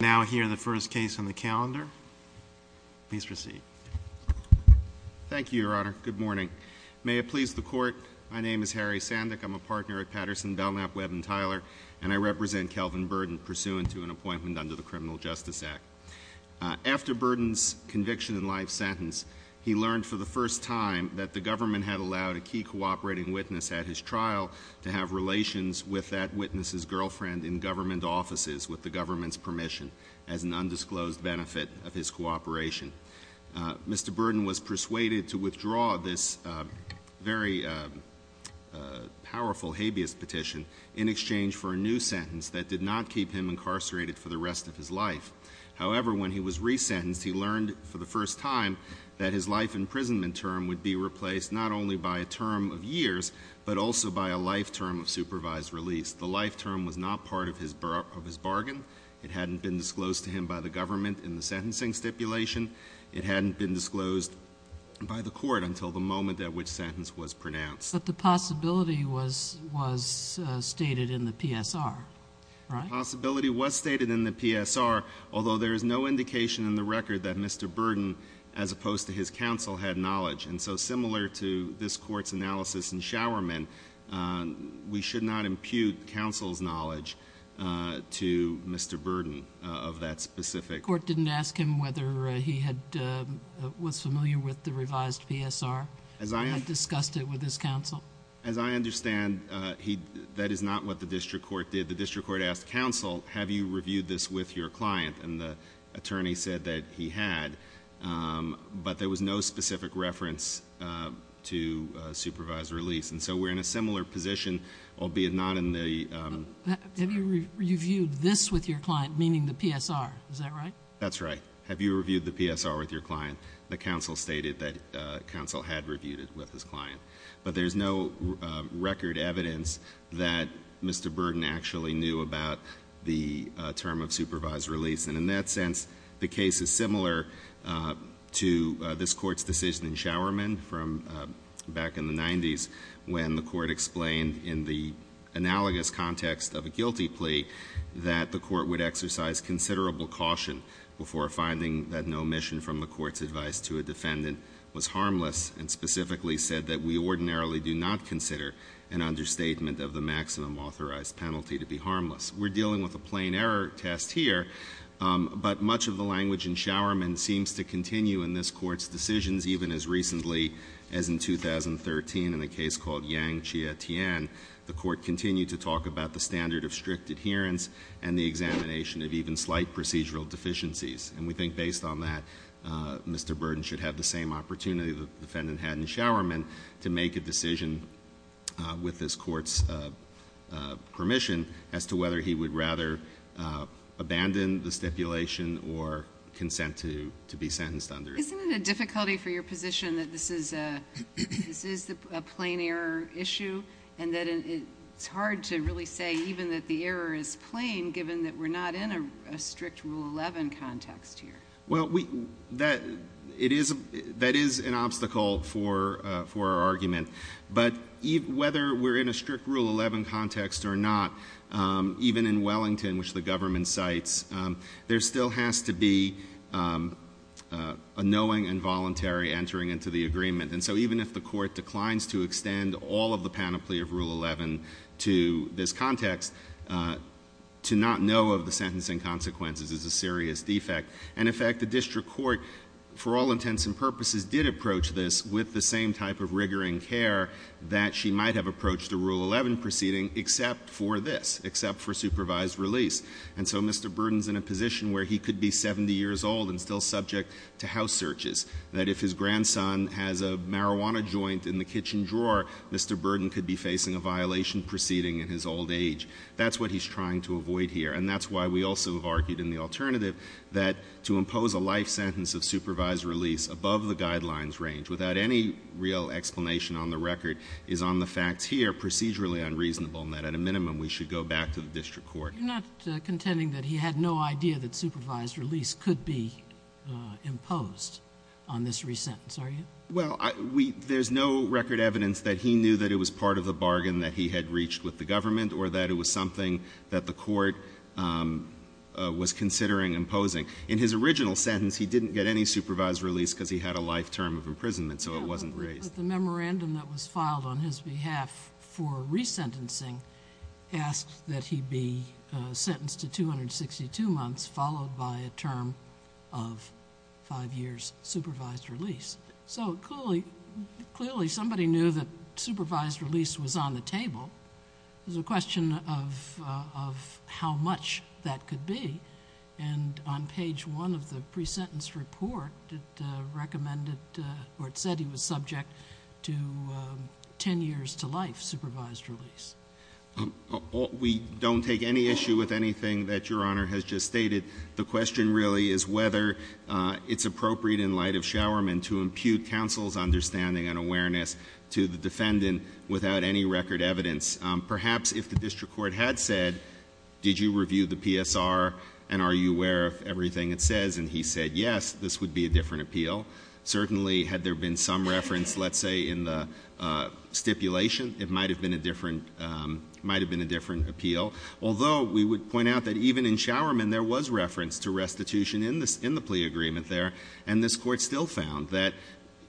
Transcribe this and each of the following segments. Now hear the first case on the calendar. Please proceed. Thank you, Your Honor. Good morning. May it please the Court, my name is Harry Sandick. I'm a partner at Patterson, Belknap, Webb & Tyler, and I represent Kelvin Burden, pursuant to an appointment under the Criminal Justice Act. After Burden's conviction and life sentence, he learned for the first time that the government had allowed a key cooperating witness at his trial to have relations with that witness's girlfriend in government offices with the government's permission, as an undisclosed benefit of his cooperation. Mr. Burden was persuaded to withdraw this very powerful habeas petition in exchange for a new sentence that did not keep him incarcerated for the rest of his life. However, when he was resentenced, he learned for the first time that his life imprisonment term would be replaced not only by a term of years, but also by a life term of supervised release. The life term was not part of his bargain. It hadn't been disclosed to him by the government in the sentencing stipulation. It hadn't been disclosed by the Court until the moment at which sentence was pronounced. But the possibility was stated in the PSR, right? The possibility was stated in the PSR, although there is no indication in the record that Mr. Burden, as opposed to his counsel, had knowledge. And so, similar to this Court's analysis in Showerman, we should not impute counsel's knowledge to Mr. Burden of that specific— The Court didn't ask him whether he was familiar with the revised PSR. I discussed it with his counsel. As I understand, that is not what the district court did. The district court asked counsel, have you reviewed this with your client? And the attorney said that he had. But there was no specific reference to supervised release. And so, we're in a similar position, albeit not in the— Have you reviewed this with your client, meaning the PSR? Is that right? That's right. Have you reviewed the PSR with your client? The counsel stated that counsel had reviewed it with his client. But there's no record evidence that Mr. Burden actually knew about the term of supervised release. And in that sense, the case is similar to this Court's decision in Showerman from back in the 90s, when the Court explained in the analogous context of a guilty plea that the Court would exercise considerable caution before finding that no omission from the Court's advice to a defendant was harmless, and specifically said that we ordinarily do not consider an understatement of the maximum authorized penalty to be harmless. We're dealing with a plain error test here, but much of the language in Showerman seems to continue in this Court's decisions, even as recently as in 2013 in a case called Yang Chia Tian. The Court continued to talk about the standard of strict adherence and the examination of even slight procedural deficiencies. And we think based on that, Mr. Burden should have the same opportunity the defendant had in Showerman to make a decision with this Court's permission as to whether he would rather abandon the stipulation or consent to be sentenced under it. Isn't it a difficulty for your position that this is a plain error issue? And that it's hard to really say even that the error is plain, given that we're not in a strict Rule 11 context here. Well, that is an obstacle for our argument. But whether we're in a strict Rule 11 context or not, even in Wellington, which the government cites, there still has to be a knowing and voluntary entering into the agreement. And so even if the Court declines to extend all of the panoply of Rule 11 to this context, to not know of the sentencing consequences is a serious defect. And in fact, the district court, for all intents and purposes, did approach this with the same type of rigor and care that she might have approached the Rule 11 proceeding, except for this, except for supervised release. And so Mr. Burden's in a position where he could be 70 years old and still subject to house searches. That if his grandson has a marijuana joint in the kitchen drawer, Mr. Burden could be facing a violation proceeding in his old age. That's what he's trying to avoid here. And that's why we also have argued in the alternative that to impose a life sentence of supervised release above the guidelines range, without any real explanation on the record, is on the facts here, procedurally unreasonable. And that at a minimum, we should go back to the district court. You're not contending that he had no idea that supervised release could be imposed on this re-sentence, are you? Well, there's no record evidence that he knew that it was part of the bargain that he had reached with the government, or that it was something that the court was considering imposing. In his original sentence, he didn't get any supervised release because he had a life term of imprisonment, so it wasn't raised. But the memorandum that was filed on his behalf for re-sentencing asked that he be sentenced to 262 months, followed by a term of five years supervised release. So clearly, somebody knew that supervised release was on the table. There's a question of how much that could be. And on page one of the pre-sentence report, it recommended, or it said he was subject to ten years to life supervised release. We don't take any issue with anything that your honor has just stated. The question really is whether it's appropriate in light of Showerman to impute counsel's understanding and evidence, perhaps if the district court had said, did you review the PSR and are you aware of everything it says, and he said yes, this would be a different appeal. Certainly, had there been some reference, let's say, in the stipulation, it might have been a different appeal. Although, we would point out that even in Showerman, there was reference to restitution in the plea agreement there. And this court still found that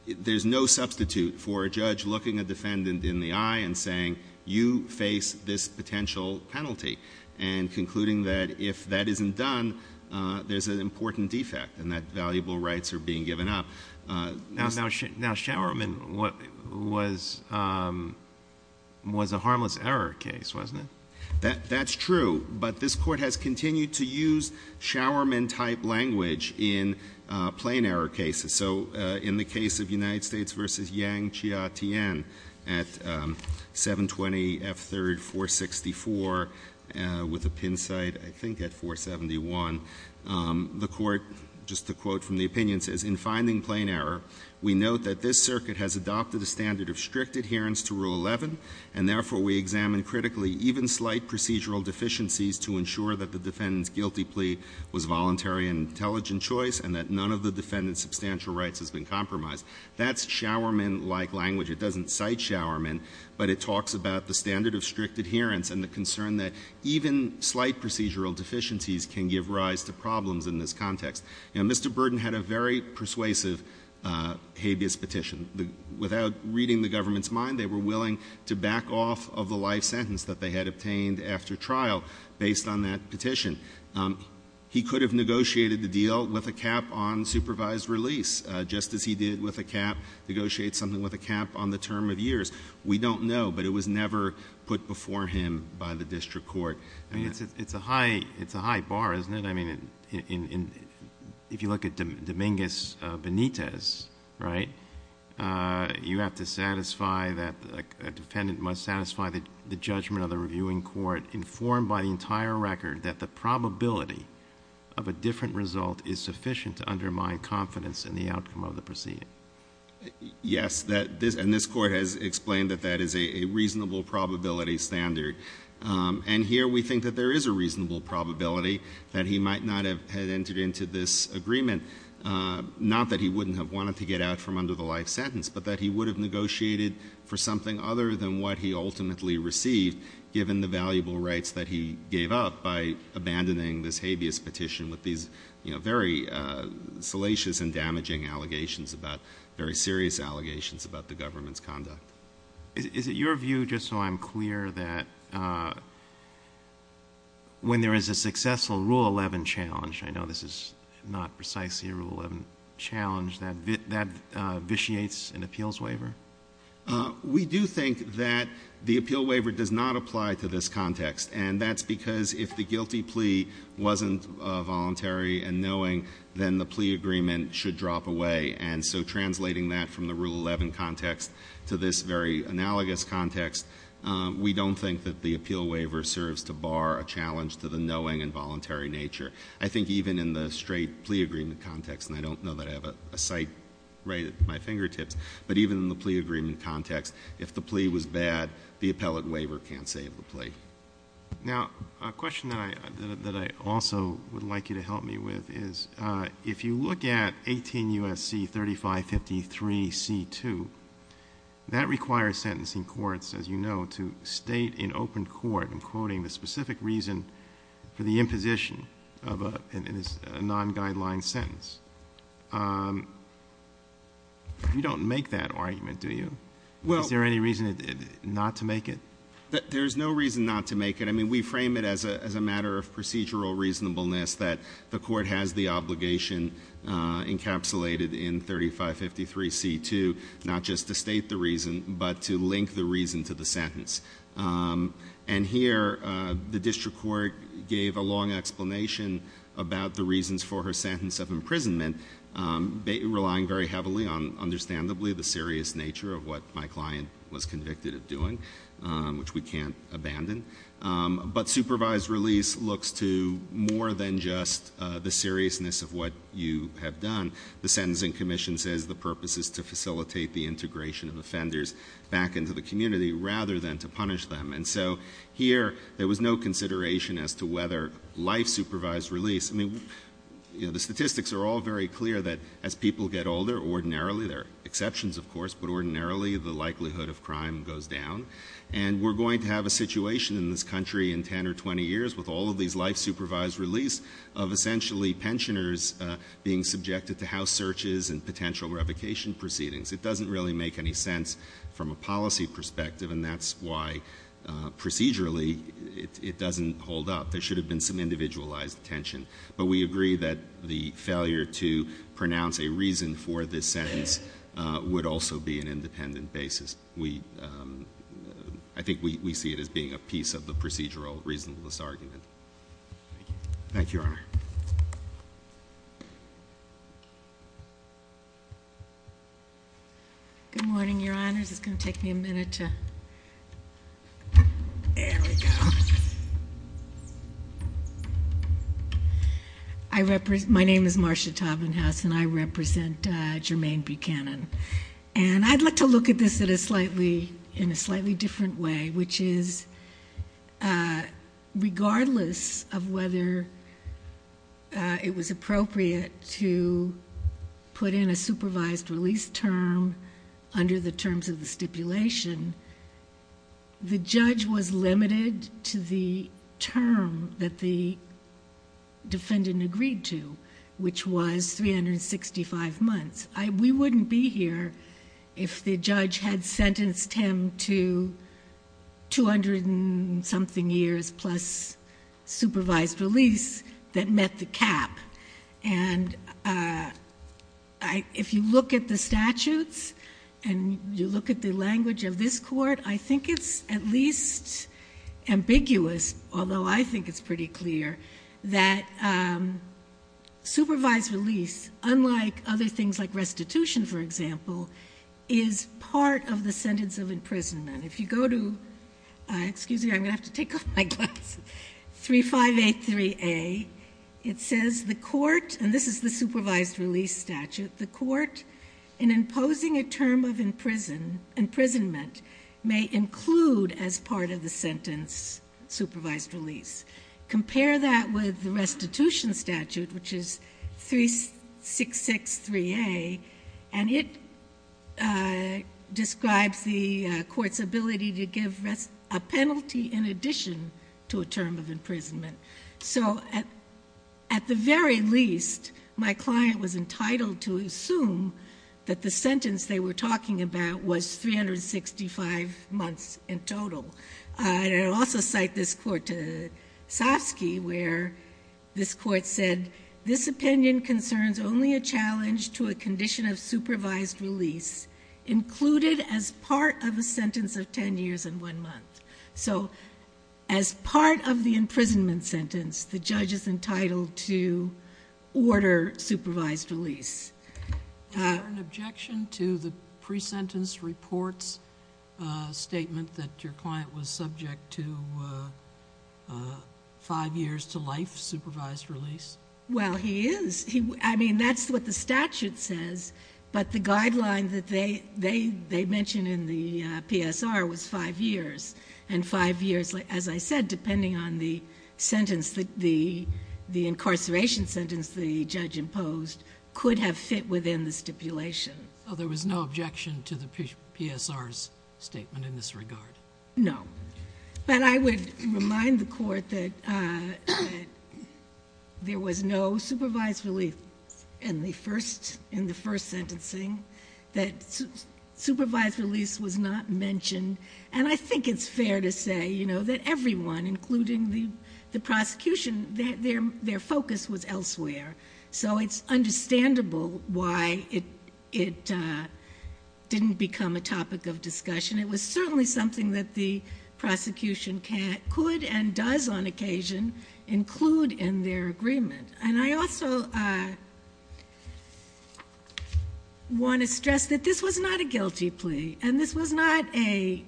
there's no substitute for a judge looking a defendant in the eye and saying, you face this potential penalty. And concluding that if that isn't done, there's an important defect and that valuable rights are being given up. Now, Showerman was a harmless error case, wasn't it? That's true, but this court has continued to use Showerman type language in plain error cases. So, in the case of United States versus Yang Chia Tien at 720 F3rd 464 with a pin site, I think at 471. The court, just to quote from the opinions, says, in finding plain error, we note that this circuit has adopted a standard of strict adherence to Rule 11. And therefore, we examine critically even slight procedural deficiencies to ensure that the defendant's guilty plea was voluntary and an intelligent choice and that none of the defendant's substantial rights has been compromised. That's Showerman-like language. It doesn't cite Showerman, but it talks about the standard of strict adherence and the concern that even slight procedural deficiencies can give rise to problems in this context. Now, Mr. Burden had a very persuasive habeas petition. Without reading the government's mind, they were willing to back off of the life sentence that they had obtained after trial based on that petition. He could have negotiated the deal with a cap on supervised release, just as he did with a cap, negotiate something with a cap on the term of years. We don't know, but it was never put before him by the district court. I mean, it's a high bar, isn't it? I mean, if you look at Dominguez Benitez, right? You have to satisfy that a defendant must satisfy the judgment of the reviewing court informed by the entire record that the probability of a different result is sufficient to undermine confidence in the outcome of the proceeding. Yes, and this court has explained that that is a reasonable probability standard. And here we think that there is a reasonable probability that he might not have entered into this agreement. Not that he wouldn't have wanted to get out from under the life sentence, but that he would have negotiated for something other than what he ultimately received, given the valuable rights that he gave up by abandoning this habeas petition with these very salacious and damaging allegations about, very serious allegations about the government's conduct. Is it your view, just so I'm clear, that when there is a successful Rule 11 challenge, I know this is not precisely a Rule 11 challenge, that vitiates an appeals waiver? We do think that the appeal waiver does not apply to this context. And that's because if the guilty plea wasn't voluntary and knowing, then the plea agreement should drop away. And so translating that from the Rule 11 context to this very analogous context, we don't think that the appeal waiver serves to bar a challenge to the knowing and voluntary nature. I think even in the straight plea agreement context, and I don't know that I have a sight right at my fingertips, but even in the plea agreement context, if the plea was bad, the appellate waiver can't save the plea. Now, a question that I also would like you to help me with is, if you look at 18 U.S.C. 3553 C2, that requires sentencing courts, as you know, to state in open court, I'm quoting, the specific reason for the imposition of a non-guideline sentence. You don't make that argument, do you? Is there any reason not to make it? There's no reason not to make it. I mean, we frame it as a matter of procedural reasonableness that the court has the obligation encapsulated in 3553 C2, not just to state the reason, but to link the reason to the sentence. And here, the district court gave a long explanation about the reasons for her sentence of imprisonment, relying very heavily on, understandably, the serious nature of what my client was convicted of doing, which we can't abandon. But supervised release looks to more than just the seriousness of what you have done. The sentencing commission says the purpose is to facilitate the integration of offenders back into the community, rather than to punish them, and so here, there was no consideration as to whether life-supervised release. I mean, the statistics are all very clear that as people get older, ordinarily, there are exceptions, of course, but ordinarily, the likelihood of crime goes down, and we're going to have a situation in this country in 10 or 20 years with all of these life-supervised release of essentially pensioners being subjected to house searches and potential revocation proceedings. It doesn't really make any sense from a policy perspective, and that's why procedurally, it doesn't hold up. There should have been some individualized attention, but we agree that the failure to pronounce a reason for this sentence would also be an independent basis. We, I think we see it as being a piece of the procedural reasonableness argument. Thank you, Your Honor. Good morning, Your Honors. It's going to take me a minute to, there we go. My name is Marcia Taubenhaus, and I represent Jermaine Buchanan. And I'd like to look at this in a slightly different way, which is, regardless of whether it was appropriate to put in a supervised release term under the terms of the stipulation, the judge was limited to the term that the defendant agreed to, which was 365 months. We wouldn't be here if the judge had sentenced him to 200 and something years plus supervised release that met the cap. And if you look at the statutes, and you look at the language of this court, I think it's at least ambiguous, although I think it's pretty clear, that supervised release, unlike other things like restitution, for example, is part of the sentence of imprisonment. If you go to, excuse me, I'm going to have to take off my glasses, 3583A, it says the court, and this is the supervised release statute, the court in imposing a term of imprisonment may include as part of the sentence supervised release. Compare that with the restitution statute, which is 3663A, and it describes the court's ability to give a penalty in addition to a term of imprisonment. So at the very least, my client was entitled to assume that the sentence they were talking about was 365 months in total. And I'll also cite this court to Saski, where this court said, this opinion concerns only a challenge to a condition of supervised release included as part of a sentence of ten years and one month. So as part of the imprisonment sentence, the judge is entitled to order supervised release. Is there an objection to the pre-sentence report's statement that your client was subject to five years to life supervised release? Well, he is. I mean, that's what the statute says. But the guideline that they mentioned in the PSR was five years. And five years, as I said, depending on the incarceration sentence the judge imposed, could have fit within the stipulation. So there was no objection to the PSR's statement in this regard? No. But I would remind the court that there was no supervised release in the first sentencing, that supervised release was not mentioned. And I think it's fair to say that everyone, including the prosecution, that their focus was elsewhere. So it's understandable why it didn't become a topic of discussion. It was certainly something that the prosecution could and does on occasion include in their agreement. And I also want to stress that this was not a guilty plea. And this was not a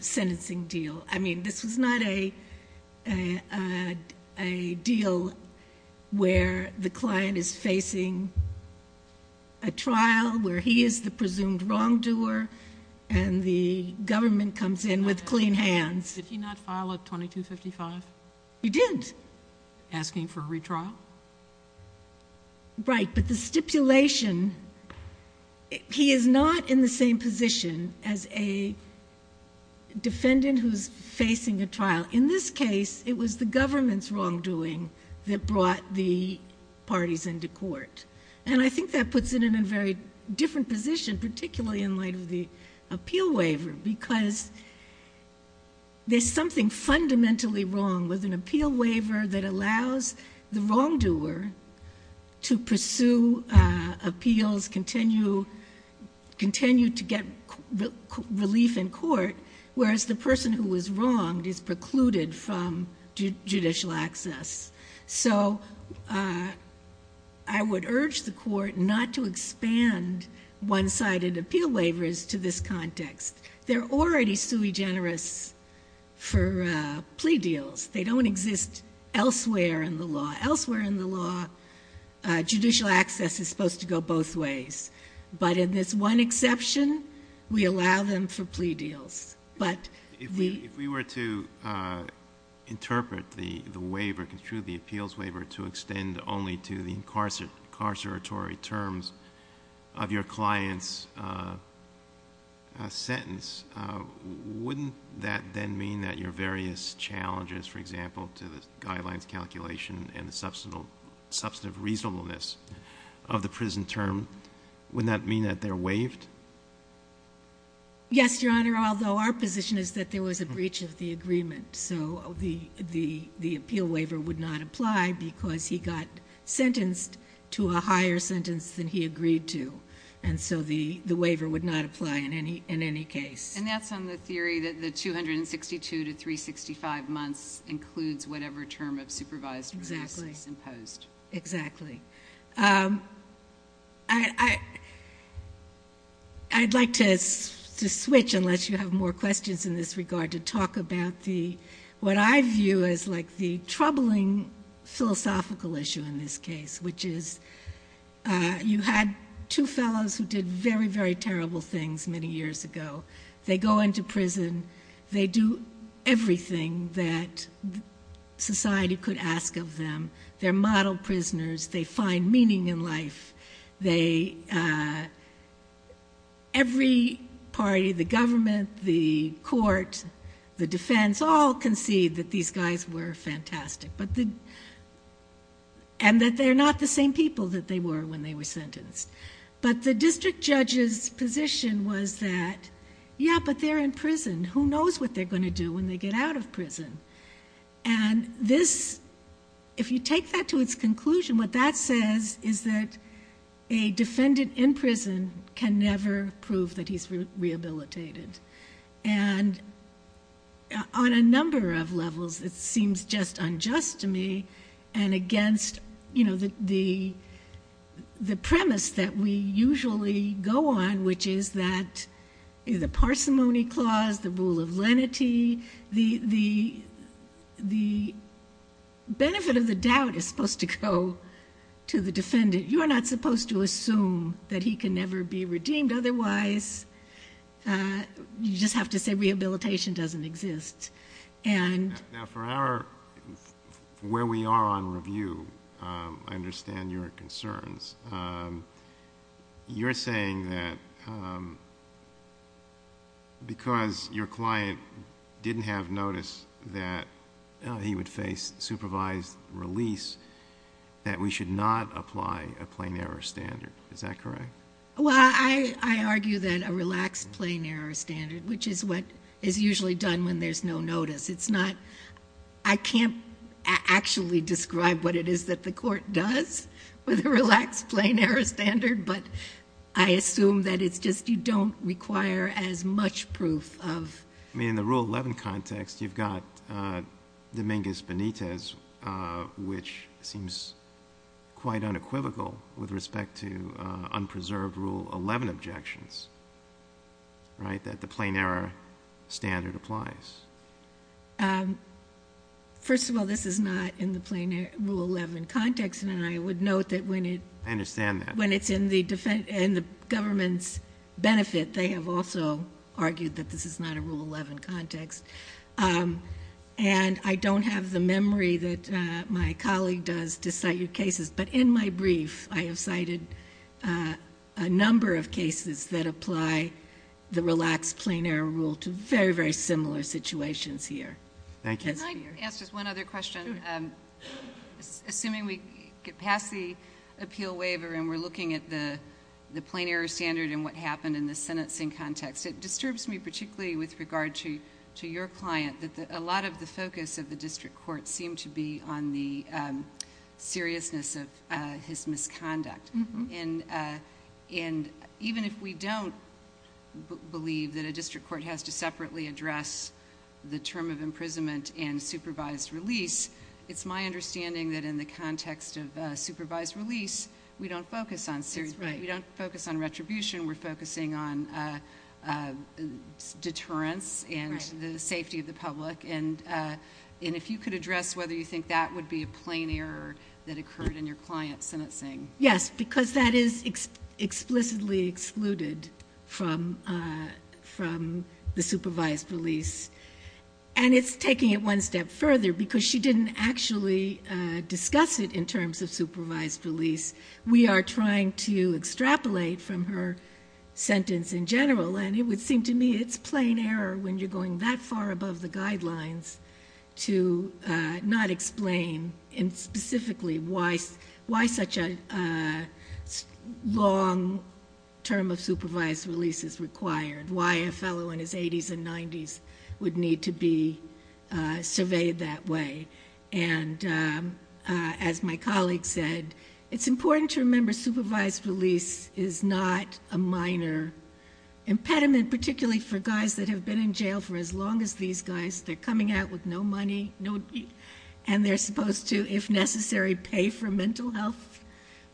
sentencing deal. I mean, this was not a deal where the client is facing a trial where he is the presumed wrongdoer and the government comes in with clean hands. Did he not file a 2255? He didn't. Asking for a retrial? Right, but the stipulation, he is not in the same position as a defendant who's facing a trial. In this case, it was the government's wrongdoing that brought the parties into court. And I think that puts it in a very different position, particularly in light of the appeal waiver. Because there's something fundamentally wrong with an appeal waiver that allows the wrongdoer to pursue appeals, continue to get relief in court, whereas the person who was wronged is precluded from judicial access. So I would urge the court not to expand one-sided appeal waivers to this context. They're already sui generis for plea deals. They don't exist elsewhere in the law. Elsewhere in the law, judicial access is supposed to go both ways. But in this one exception, we allow them for plea deals. But- If we were to interpret the waiver, construe the appeals waiver to extend only to the incarceratory terms of your client's sentence, wouldn't that then mean that your various challenges, for example, to the guidelines calculation and the substantive reasonableness of the prison term, would that mean that they're waived? Yes, Your Honor, although our position is that there was a breach of the agreement. So the appeal waiver would not apply because he got sentenced to a higher sentence than he agreed to. And so the waiver would not apply in any case. And that's on the theory that the 262 to 365 months includes whatever term of supervised release is imposed. Exactly, I'd like to switch, unless you have more questions in this regard, to talk about what I view as the troubling philosophical issue in this case, which is you had two fellows who did very, very terrible things many years ago. They go into prison. They do everything that society could ask of them. They're model prisoners. They find meaning in life. Every party, the government, the court, the defense, all concede that these guys were fantastic. And that they're not the same people that they were when they were sentenced. But the district judge's position was that, yeah, but they're in prison. Who knows what they're going to do when they get out of prison? And if you take that to its conclusion, what that says is that a defendant in prison can never prove that he's rehabilitated. And on a number of levels, it seems just unjust to me. And against the premise that we usually go on, which is that the parsimony clause, the rule of lenity, the benefit of the doubt is supposed to go to the defendant. You are not supposed to assume that he can never be redeemed. Otherwise, you just have to say rehabilitation doesn't exist. And- Now for our, where we are on review, I understand your concerns. You're saying that because your client didn't have notice that he would face supervised release, that we should not apply a plain error standard, is that correct? Well, I argue that a relaxed plain error standard, which is what is usually done when there's no notice. It's not, I can't actually describe what it is that the court does with a relaxed plain error standard, but I assume that it's just you don't require as much proof of- I mean, in the Rule 11 context, you've got Dominguez Benitez, which seems quite unequivocal with respect to unpreserved Rule 11 objections, right, that the plain error standard applies. First of all, this is not in the plain rule 11 context, and I would note that when it's in the government's benefit, they have also argued that this is not a Rule 11 context. And I don't have the memory that my colleague does to cite your cases, but in my brief, I have cited a number of cases that apply the relaxed plain error rule to very, very similar situations here. Thank you. Can I ask just one other question? Sure. Assuming we get past the appeal waiver and we're looking at the plain error standard and what happened in the sentencing context, it disturbs me particularly with regard to your client that a lot of the focus of the district court seemed to be on the seriousness of his misconduct. Even if we don't believe that a district court has to separately address the term of imprisonment and supervised release, it's my understanding that in the context of supervised release, we don't focus on retribution. We're focusing on deterrence and the safety of the public. And if you could address whether you think that would be a plain error that occurred in your client's sentencing. Yes, because that is explicitly excluded from the supervised release. And it's taking it one step further because she didn't actually discuss it in terms of supervised release. We are trying to extrapolate from her sentence in general. And it would seem to me it's plain error when you're going that far above the guidelines to not explain specifically why such a long term of supervised release is required, why a fellow in his 80s and 90s would need to be surveyed that way. And as my colleague said, it's important to remember supervised release is not a minor impediment, particularly for guys that have been in jail for as long as these guys. They're coming out with no money. And they're supposed to, if necessary, pay for mental health,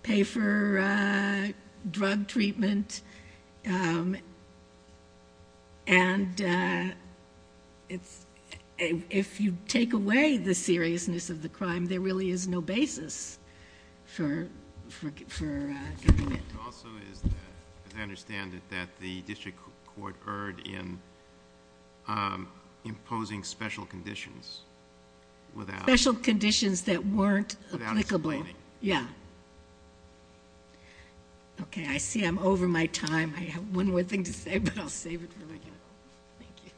pay for drug treatment. And if you take away the seriousness of the crime, there really is no basis for giving it. It also is, as I understand it, that the district court occurred in imposing special conditions without. Special conditions that weren't applicable. Without excluding. Yeah. OK, I see I'm over my time. I have one more thing to say, but I'll save it for later. Thank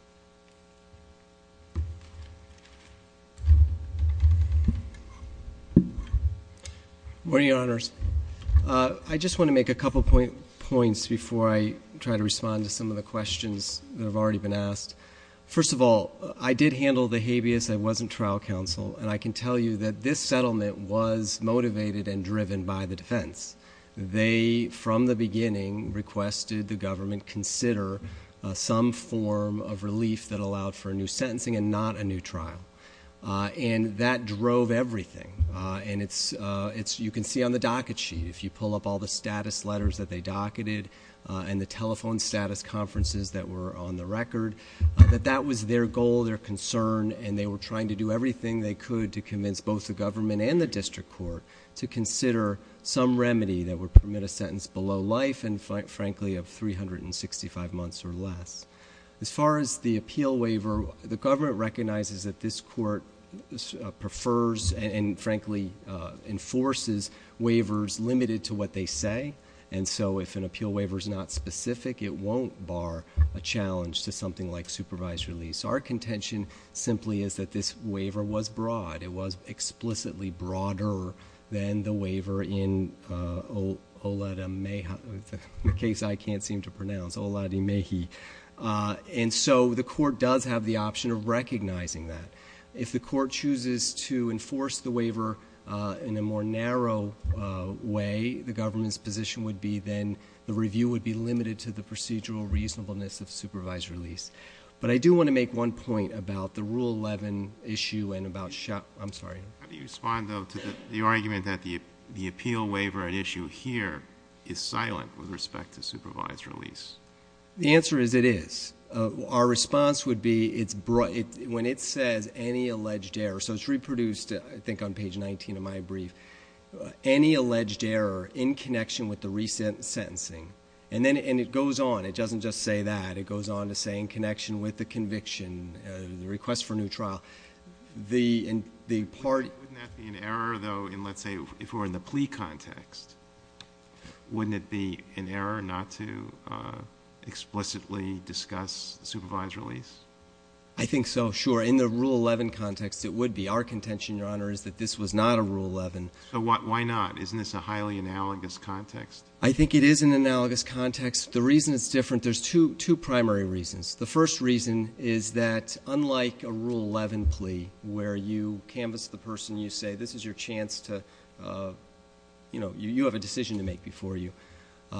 you. Morning, Your Honors. I just want to make a couple of points before I try to respond to some of the questions that have already been asked. First of all, I did handle the habeas. I wasn't trial counsel. And I can tell you that this settlement was motivated and driven by the defense. They, from the beginning, requested the government consider some form of relief that allowed for a new sentencing and not a new trial. And that drove everything. And you can see on the docket sheet, if you pull up all the status letters that they docketed and the telephone status conferences that were on the record, that that was their goal, their concern. And they were trying to do everything they could to convince both the government and the district court to consider some remedy that would permit a sentence below life and, frankly, of 365 months or less. recognizes that this court prefers and, frankly, enforces waivers limited to what they say. And so if an appeal waiver is not specific, it won't bar a challenge to something like supervised release. Our contention simply is that this waiver was broad. It was explicitly broader than the waiver in Oladimehi. The case I can't seem to pronounce, Oladimehi. And so the court does have the option of recognizing that. If the court chooses to enforce the waiver in a more narrow way, the government's position would be then the review would be limited to the procedural reasonableness of supervised release. But I do want to make one point about the Rule 11 issue and about shop. I'm sorry. How do you respond, though, to the argument that the appeal waiver at issue here is silent with respect to supervised release? The answer is it is. Our response would be when it says any alleged error, so it's reproduced, I think, on page 19 of my brief, any alleged error in connection with the recent sentencing. And then it goes on. It doesn't just say that. It goes on to say in connection with the conviction, the request for a new trial. The part- Wouldn't that be an error, though, in, let's say, if we're in the plea context? Wouldn't it be an error not to explicitly discuss supervised release? I think so, sure. In the Rule 11 context, it would be. Our contention, Your Honor, is that this was not a Rule 11. Why not? Isn't this a highly analogous context? I think it is an analogous context. The reason it's different, there's two primary reasons. The first reason is that unlike a Rule 11 plea, where you canvass the person. You say, this is your chance to, you know, you have a decision to make before you.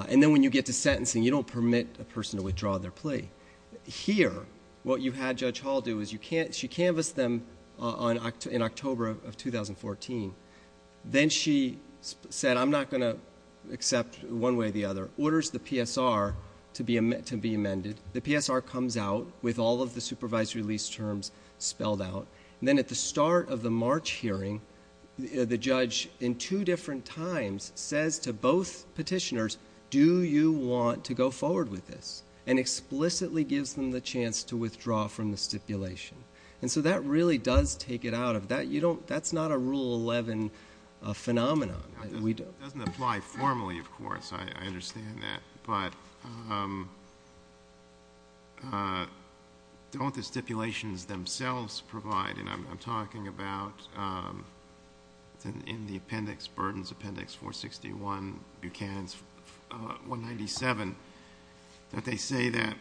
And then when you get to sentencing, you don't permit a person to withdraw their plea. Here, what you had Judge Hall do is she canvassed them in October of 2014. Then she said, I'm not going to accept one way or the other, orders the PSR to be amended. The PSR comes out with all of the supervised release terms spelled out. Then at the start of the March hearing, the judge, in two different times, says to both petitioners, do you want to go forward with this? And explicitly gives them the chance to withdraw from the stipulation. And so that really does take it out of that. You don't, that's not a Rule 11 phenomenon. We don't. It doesn't apply formally, of course, I understand that. But don't the stipulations themselves provide, and I'm talking about in the appendix, Burdens Appendix 461, Buchanan's 197, don't they say that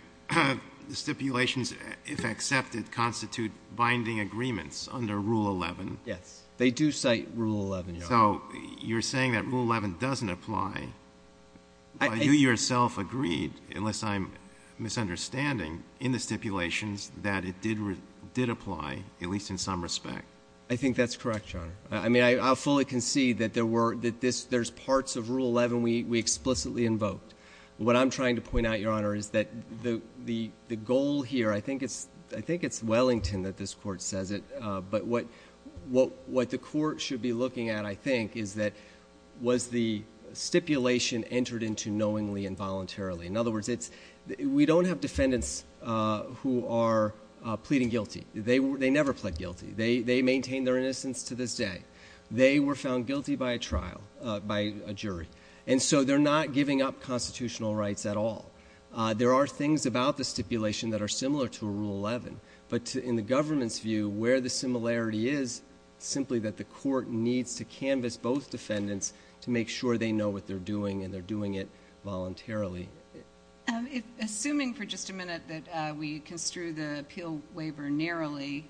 the stipulations, if accepted, constitute binding agreements under Rule 11? Yes. They do cite Rule 11, Your Honor. So you're saying that Rule 11 doesn't apply. You yourself agreed, unless I'm misunderstanding, in the stipulations that it did apply, at least in some respect. I think that's correct, Your Honor. I fully concede that there's parts of Rule 11 we explicitly invoked. What I'm trying to point out, Your Honor, is that the goal here, I think it's Wellington that this court says it, but what the court should be looking at, I think, is that was the stipulation entered into knowingly and voluntarily? In other words, we don't have defendants who are pleading guilty. They never pled guilty. They maintain their innocence to this day. They were found guilty by a trial, by a jury. And so they're not giving up constitutional rights at all. There are things about the stipulation that are similar to Rule 11. But in the government's view, where the similarity is, simply that the court needs to canvas both defendants to make sure they know what they're doing, and they're doing it voluntarily. Assuming for just a minute that we construe the appeal waiver narrowly,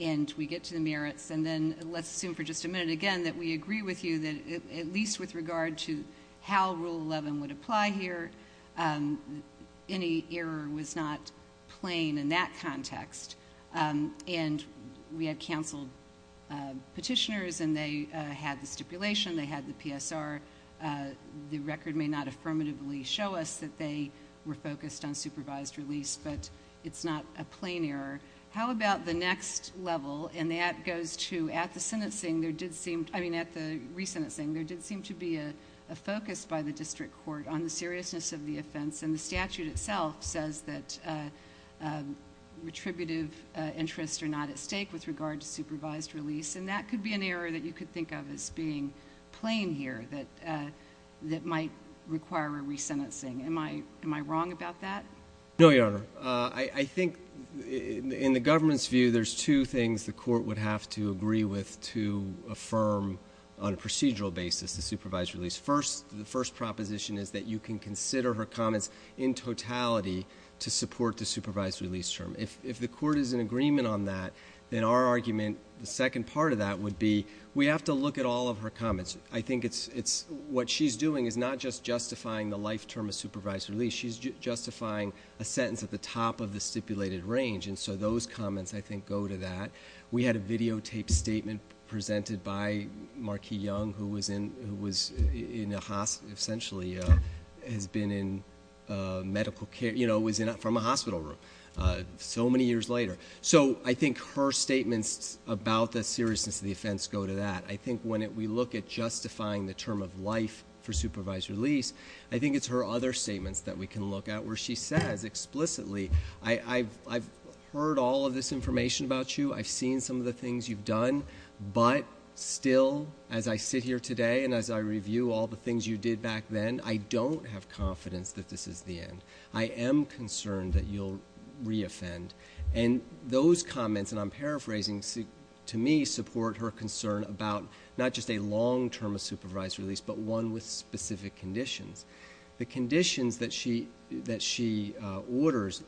and we get to the merits, and then let's assume for just a minute, again, that we agree with you that, at least with regard to how Rule 11 would apply here, any error was not plain in that context. And we had counseled petitioners, and they had the stipulation. They had the PSR. The record may not affirmatively show us that they were focused on supervised release, but it's not a plain error. How about the next level? And that goes to, at the sentencing, I mean, at the re-sentencing, there did seem to be a focus by the district court on the seriousness of the offense. And the statute itself says that retributive interests are not at stake with regard to supervised release. And that could be an error that you could think of as being plain here, that might require a re-sentencing. Am I wrong about that? No, Your Honor. I think, in the government's view, there's two things the court would have to agree with to affirm on a procedural basis the supervised release. First, the first proposition is that you can consider her comments in totality to support the supervised release term. If the court is in agreement on that, then our argument, the second part of that would be, we have to look at all of her comments. I think what she's doing is not just justifying the life term of supervised release. She's justifying a sentence at the top of the stipulated range. And so those comments, I think, go to that. We had a videotaped statement presented by Markee Young, who was in a hospital, essentially has been in medical care, was from a hospital room, so many years later. So I think her statements about the seriousness of the offense go to that. I think when we look at justifying the term of life for supervised release, I think it's her other statements that we can look at where she says explicitly, I've heard all of this information about you. I've seen some of the things you've done. But still, as I sit here today and as I review all the things you did back then, I don't have confidence that this is the end. I am concerned that you'll re-offend. And those comments, and I'm paraphrasing to me, support her concern about not just a long term of supervised release, but one with specific conditions. The conditions that she orders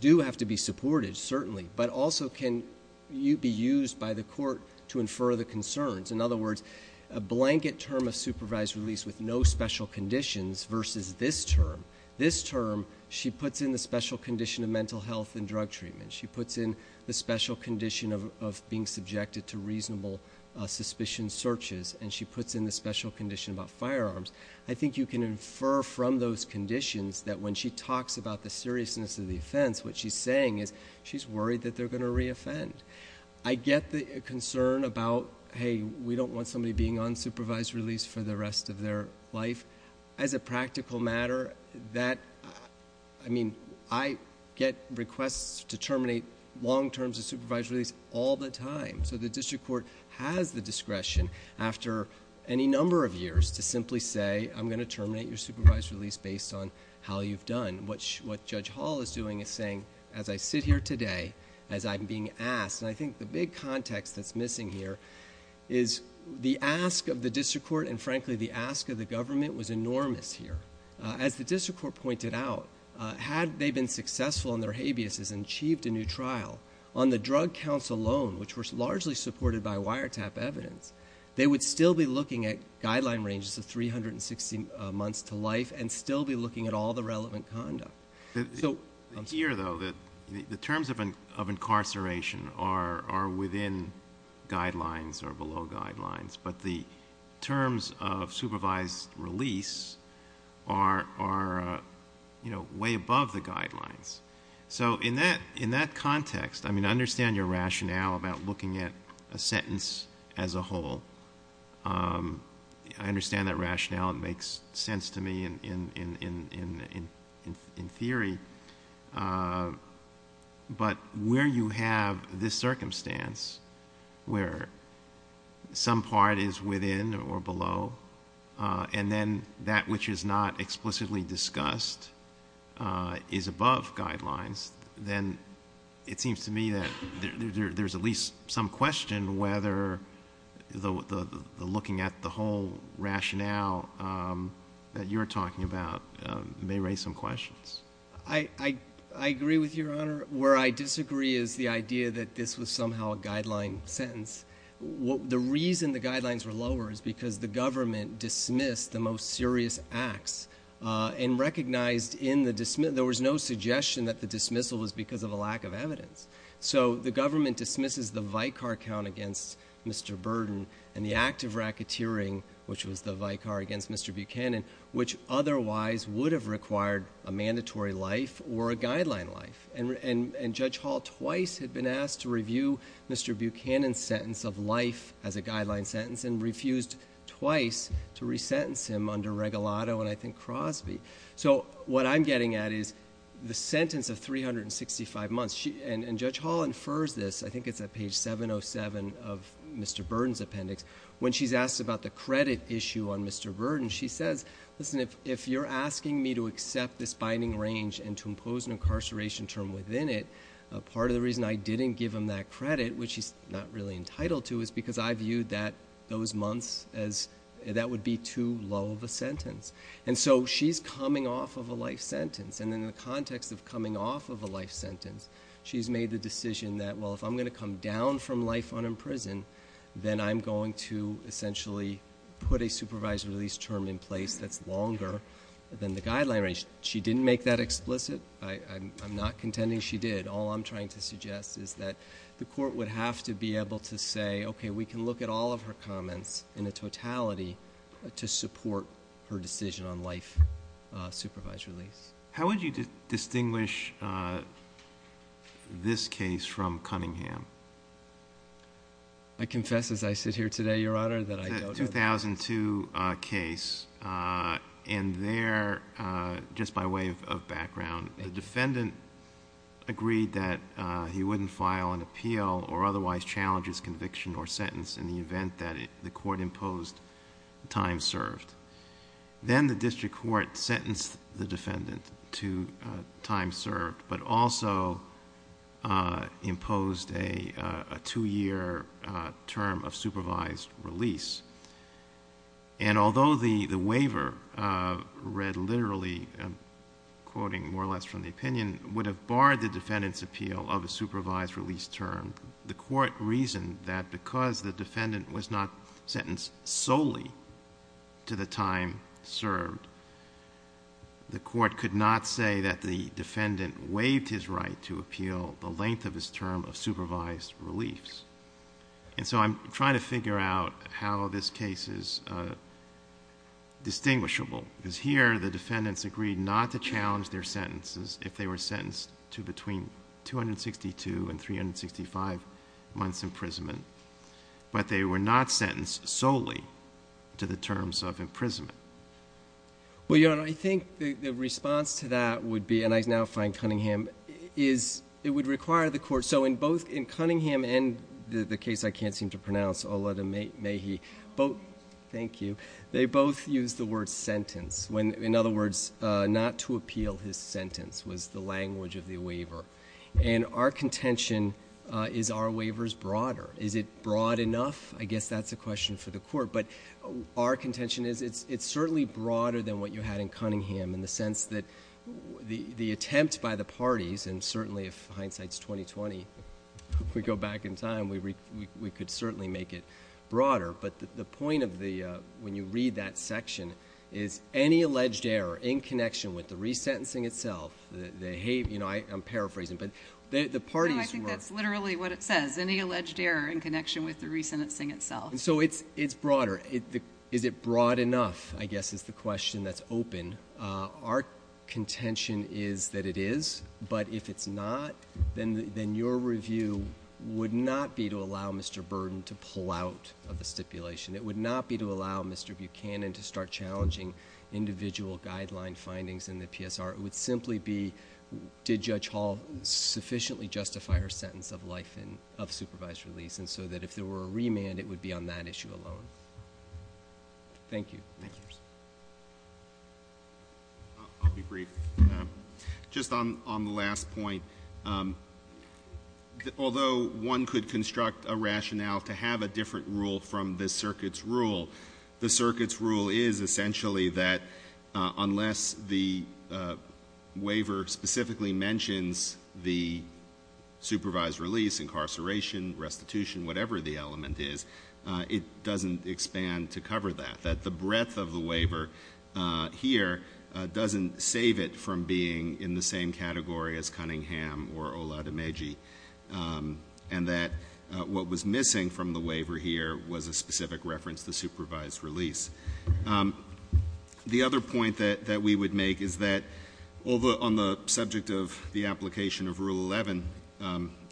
do have to be supported, certainly, but also can be used by the court to infer the concerns. In other words, a blanket term of supervised release with no special conditions versus this term. This term, she puts in the special condition of mental health and drug treatment. She puts in the special condition of being subjected to reasonable suspicion searches. And she puts in the special condition about firearms. I think you can infer from those conditions that when she talks about the seriousness of the offense, what she's saying is she's worried that they're going to re-offend. I get the concern about, hey, we don't want somebody being on supervised release for the rest of their life. As a practical matter, I get requests to terminate long terms of supervised release all the time. So the district court has the discretion after any number of years to simply say, I'm going to terminate your supervised release based on how you've done. What Judge Hall is doing is saying, as I sit here today, as I'm being asked, and I think the big context that's missing here is the ask of the district court, and frankly, the ask of the government, was enormous here. As the district court pointed out, had they been successful in their habeas and achieved a new trial on the drug counts alone, which were largely supported by wiretap evidence, they would still be looking at guideline ranges of 360 months to life and still be looking at all the relevant conduct. Here, though, the terms of incarceration are within guidelines or below guidelines. But the terms of supervised release are way above the guidelines. So in that context, I mean, I understand your rationale I understand that rationale. It makes sense to me in theory. But where you have this circumstance where some part is within or below, and then that which is not explicitly discussed is above guidelines, then it seems to me that there's at least some question whether looking at the whole rationale that you're talking about may raise some questions. I agree with your honor. Where I disagree is the idea that this was somehow a guideline sentence. The reason the guidelines were lower is because the government dismissed the most serious acts and recognized in the dismissal, there was no suggestion that the dismissal was because of a lack of evidence. So the government dismisses the Vicar Count against Mr. Burden and the act of racketeering, which was the Vicar against Mr. Buchanan, which otherwise would have required a mandatory life or a guideline life. And Judge Hall twice had been asked to review Mr. Buchanan's sentence of life as a guideline sentence and refused twice to resentence him under Regalado and, I think, Crosby. So what I'm getting at is the sentence of 365 months, and Judge Hall infers this. I think it's at page 707 of Mr. Burden's appendix. When she's asked about the credit issue on Mr. Burden, she says, listen, if you're asking me to accept this binding range and to impose an incarceration term within it, part of the reason I didn't give him that credit, which he's not really entitled to, is because I viewed that those months as that would be too low of a sentence. And so she's coming off of a life sentence. And in the context of coming off of a life sentence, she's made the decision that, well, if I'm going to come down from life unimprisoned, then I'm going to essentially put a supervised release term in place that's longer than the guideline range. She didn't make that explicit. I'm not contending she did. All I'm trying to suggest is that the court would have to be able to say, OK, we can look at all of her comments in a totality to support her decision on life supervised release. How would you distinguish this case from Cunningham? I confess as I sit here today, Your Honor, that I don't have that. The 2002 case, and there, just by way of background, the defendant agreed that he wouldn't file an appeal or otherwise challenge his conviction or sentence in the event that the court imposed the time served. Then the district court sentenced the defendant to time served, but also imposed a two-year term of supervised release. And although the waiver read literally, quoting more or less from the opinion, would have barred the defendant's appeal of a supervised release term, the court reasoned that because the defendant was not sentenced solely to the time served, the court could not say that the defendant waived his right to appeal the length of his term of supervised reliefs. And so I'm trying to figure out how this case is distinguishable, because here the defendants agreed not to challenge their sentences if they were sentenced to between 262 and 365 months imprisonment, but they were not sentenced solely to the terms of imprisonment. Well, Your Honor, I think the response to that would be, and I now find Cunningham, is it would require the court. So in both Cunningham and the case I can't seem to pronounce, Oled Mehi, thank you, they both used the word sentence. In other words, not to appeal his sentence was the language of the waiver. And our contention, is our waivers broader? Is it broad enough? I guess that's a question for the court. But our contention is it's certainly broader than what you had in Cunningham, in the sense that the attempt by the parties, and certainly if hindsight's 20-20, if we go back in time, we could certainly make it broader. But the point of when you read that section is any alleged error in connection with the resentencing itself, the hate, I'm paraphrasing, but the parties were. No, I think that's literally what it says. Any alleged error in connection with the resentencing itself. So it's broader. Is it broad enough? I guess is the question that's open. Our contention is that it is. But if it's not, then your review would not be to allow Mr. Burden to pull out of the stipulation. It would not be to allow Mr. Buchanan to start challenging individual guideline findings in the PSR. It would simply be, did Judge Hall sufficiently justify her sentence of life of supervised release? And so that if there were a remand, it would be on that issue alone. Thank you. Thank you. I'll be brief. Just on the last point, although one could construct a rationale to have a different rule from the circuit's rule, the circuit's rule is essentially that unless the waiver specifically mentions the supervised release, incarceration, restitution, whatever the element is, it doesn't expand to cover that. That the breadth of the waiver here doesn't save it from being in the same category as Cunningham or Oladimeji. And that what was missing from the waiver here was a specific reference to supervised release. The other point that we would make is that on the subject of the application of Rule 11,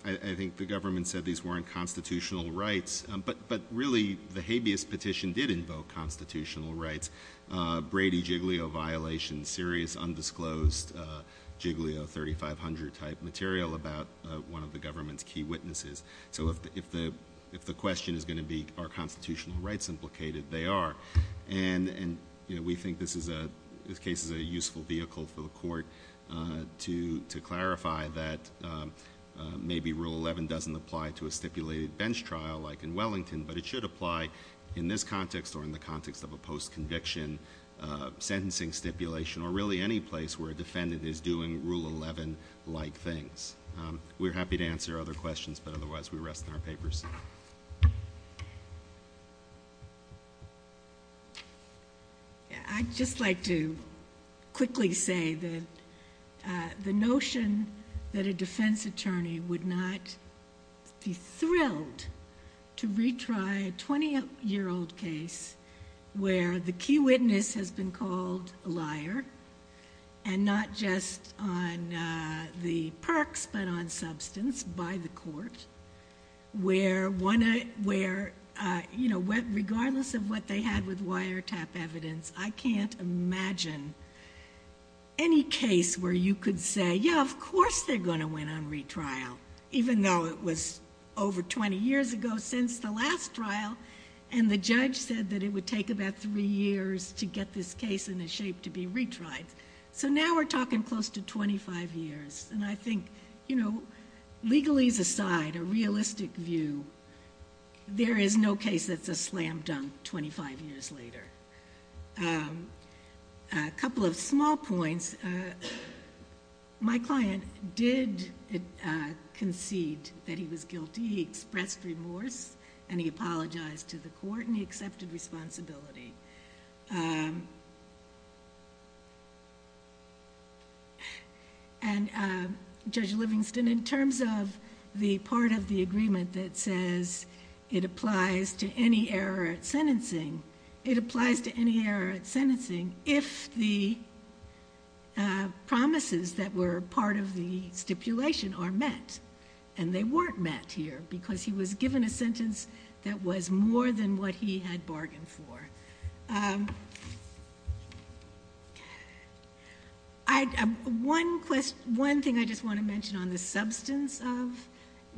I think the government said these weren't constitutional rights. But really, the habeas petition did invoke constitutional rights. Brady Jiglio violation, serious undisclosed Jiglio 3500 type material about one of the government's key witnesses. So if the question is going to be, are constitutional rights implicated, they are. And we think this case is a useful vehicle for the court to clarify that maybe Rule 11 doesn't apply to a stipulated bench trial like in Wellington, but it should apply in this context or in the context of a post-conviction sentencing stipulation or really any place where a defendant is doing Rule 11-like things. We're happy to answer other questions, but otherwise we rest in our papers. Yeah. I'd just like to quickly say that the notion that a defense attorney would not be thrilled to retry a 20-year-old case where the key witness has been called a liar and not just on the perks but on substance by the court, where regardless of what they had with wiretap evidence, I can't imagine any case where you could say, yeah, of course they're going to win on retrial, even though it was over 20 years ago since the last trial and the judge said that it would take about three years to get this case in a shape to be retried. So now we're talking close to 25 years. And I think, legalese aside, a realistic view, there is no case that's a slam dunk 25 years later. A couple of small points. My client did concede that he was guilty. He expressed remorse, and he apologized to the court, and he accepted responsibility. And Judge Livingston, in terms of the part of the agreement that says it applies to any error at sentencing, it applies to any error at sentencing if the promises that were part of the stipulation are met. And they weren't met here, because he was given a sentence that was more than what he had bargained for. One thing I just want to mention on the substance of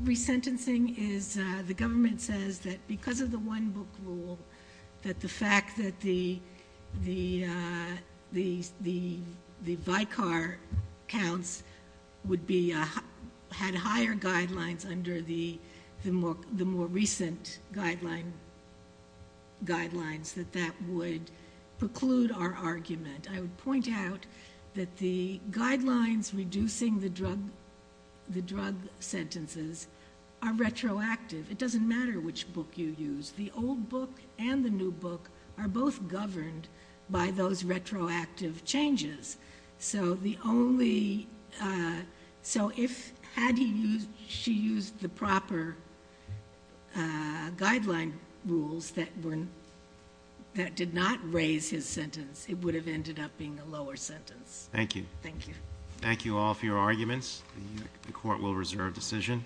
resentencing is the government says that because of the one book rule, that the fact that the Vicar counts had higher guidelines under the more recent guidelines that the Vicar that would preclude our argument. I would point out that the guidelines reducing the drug sentences are retroactive. It doesn't matter which book you use. The old book and the new book are both governed by those retroactive changes. So had she used the proper guideline rules that did not raise his sentence, it would have ended up being a lower sentence. Thank you. Thank you. Thank you all for your arguments. The court will reserve decision.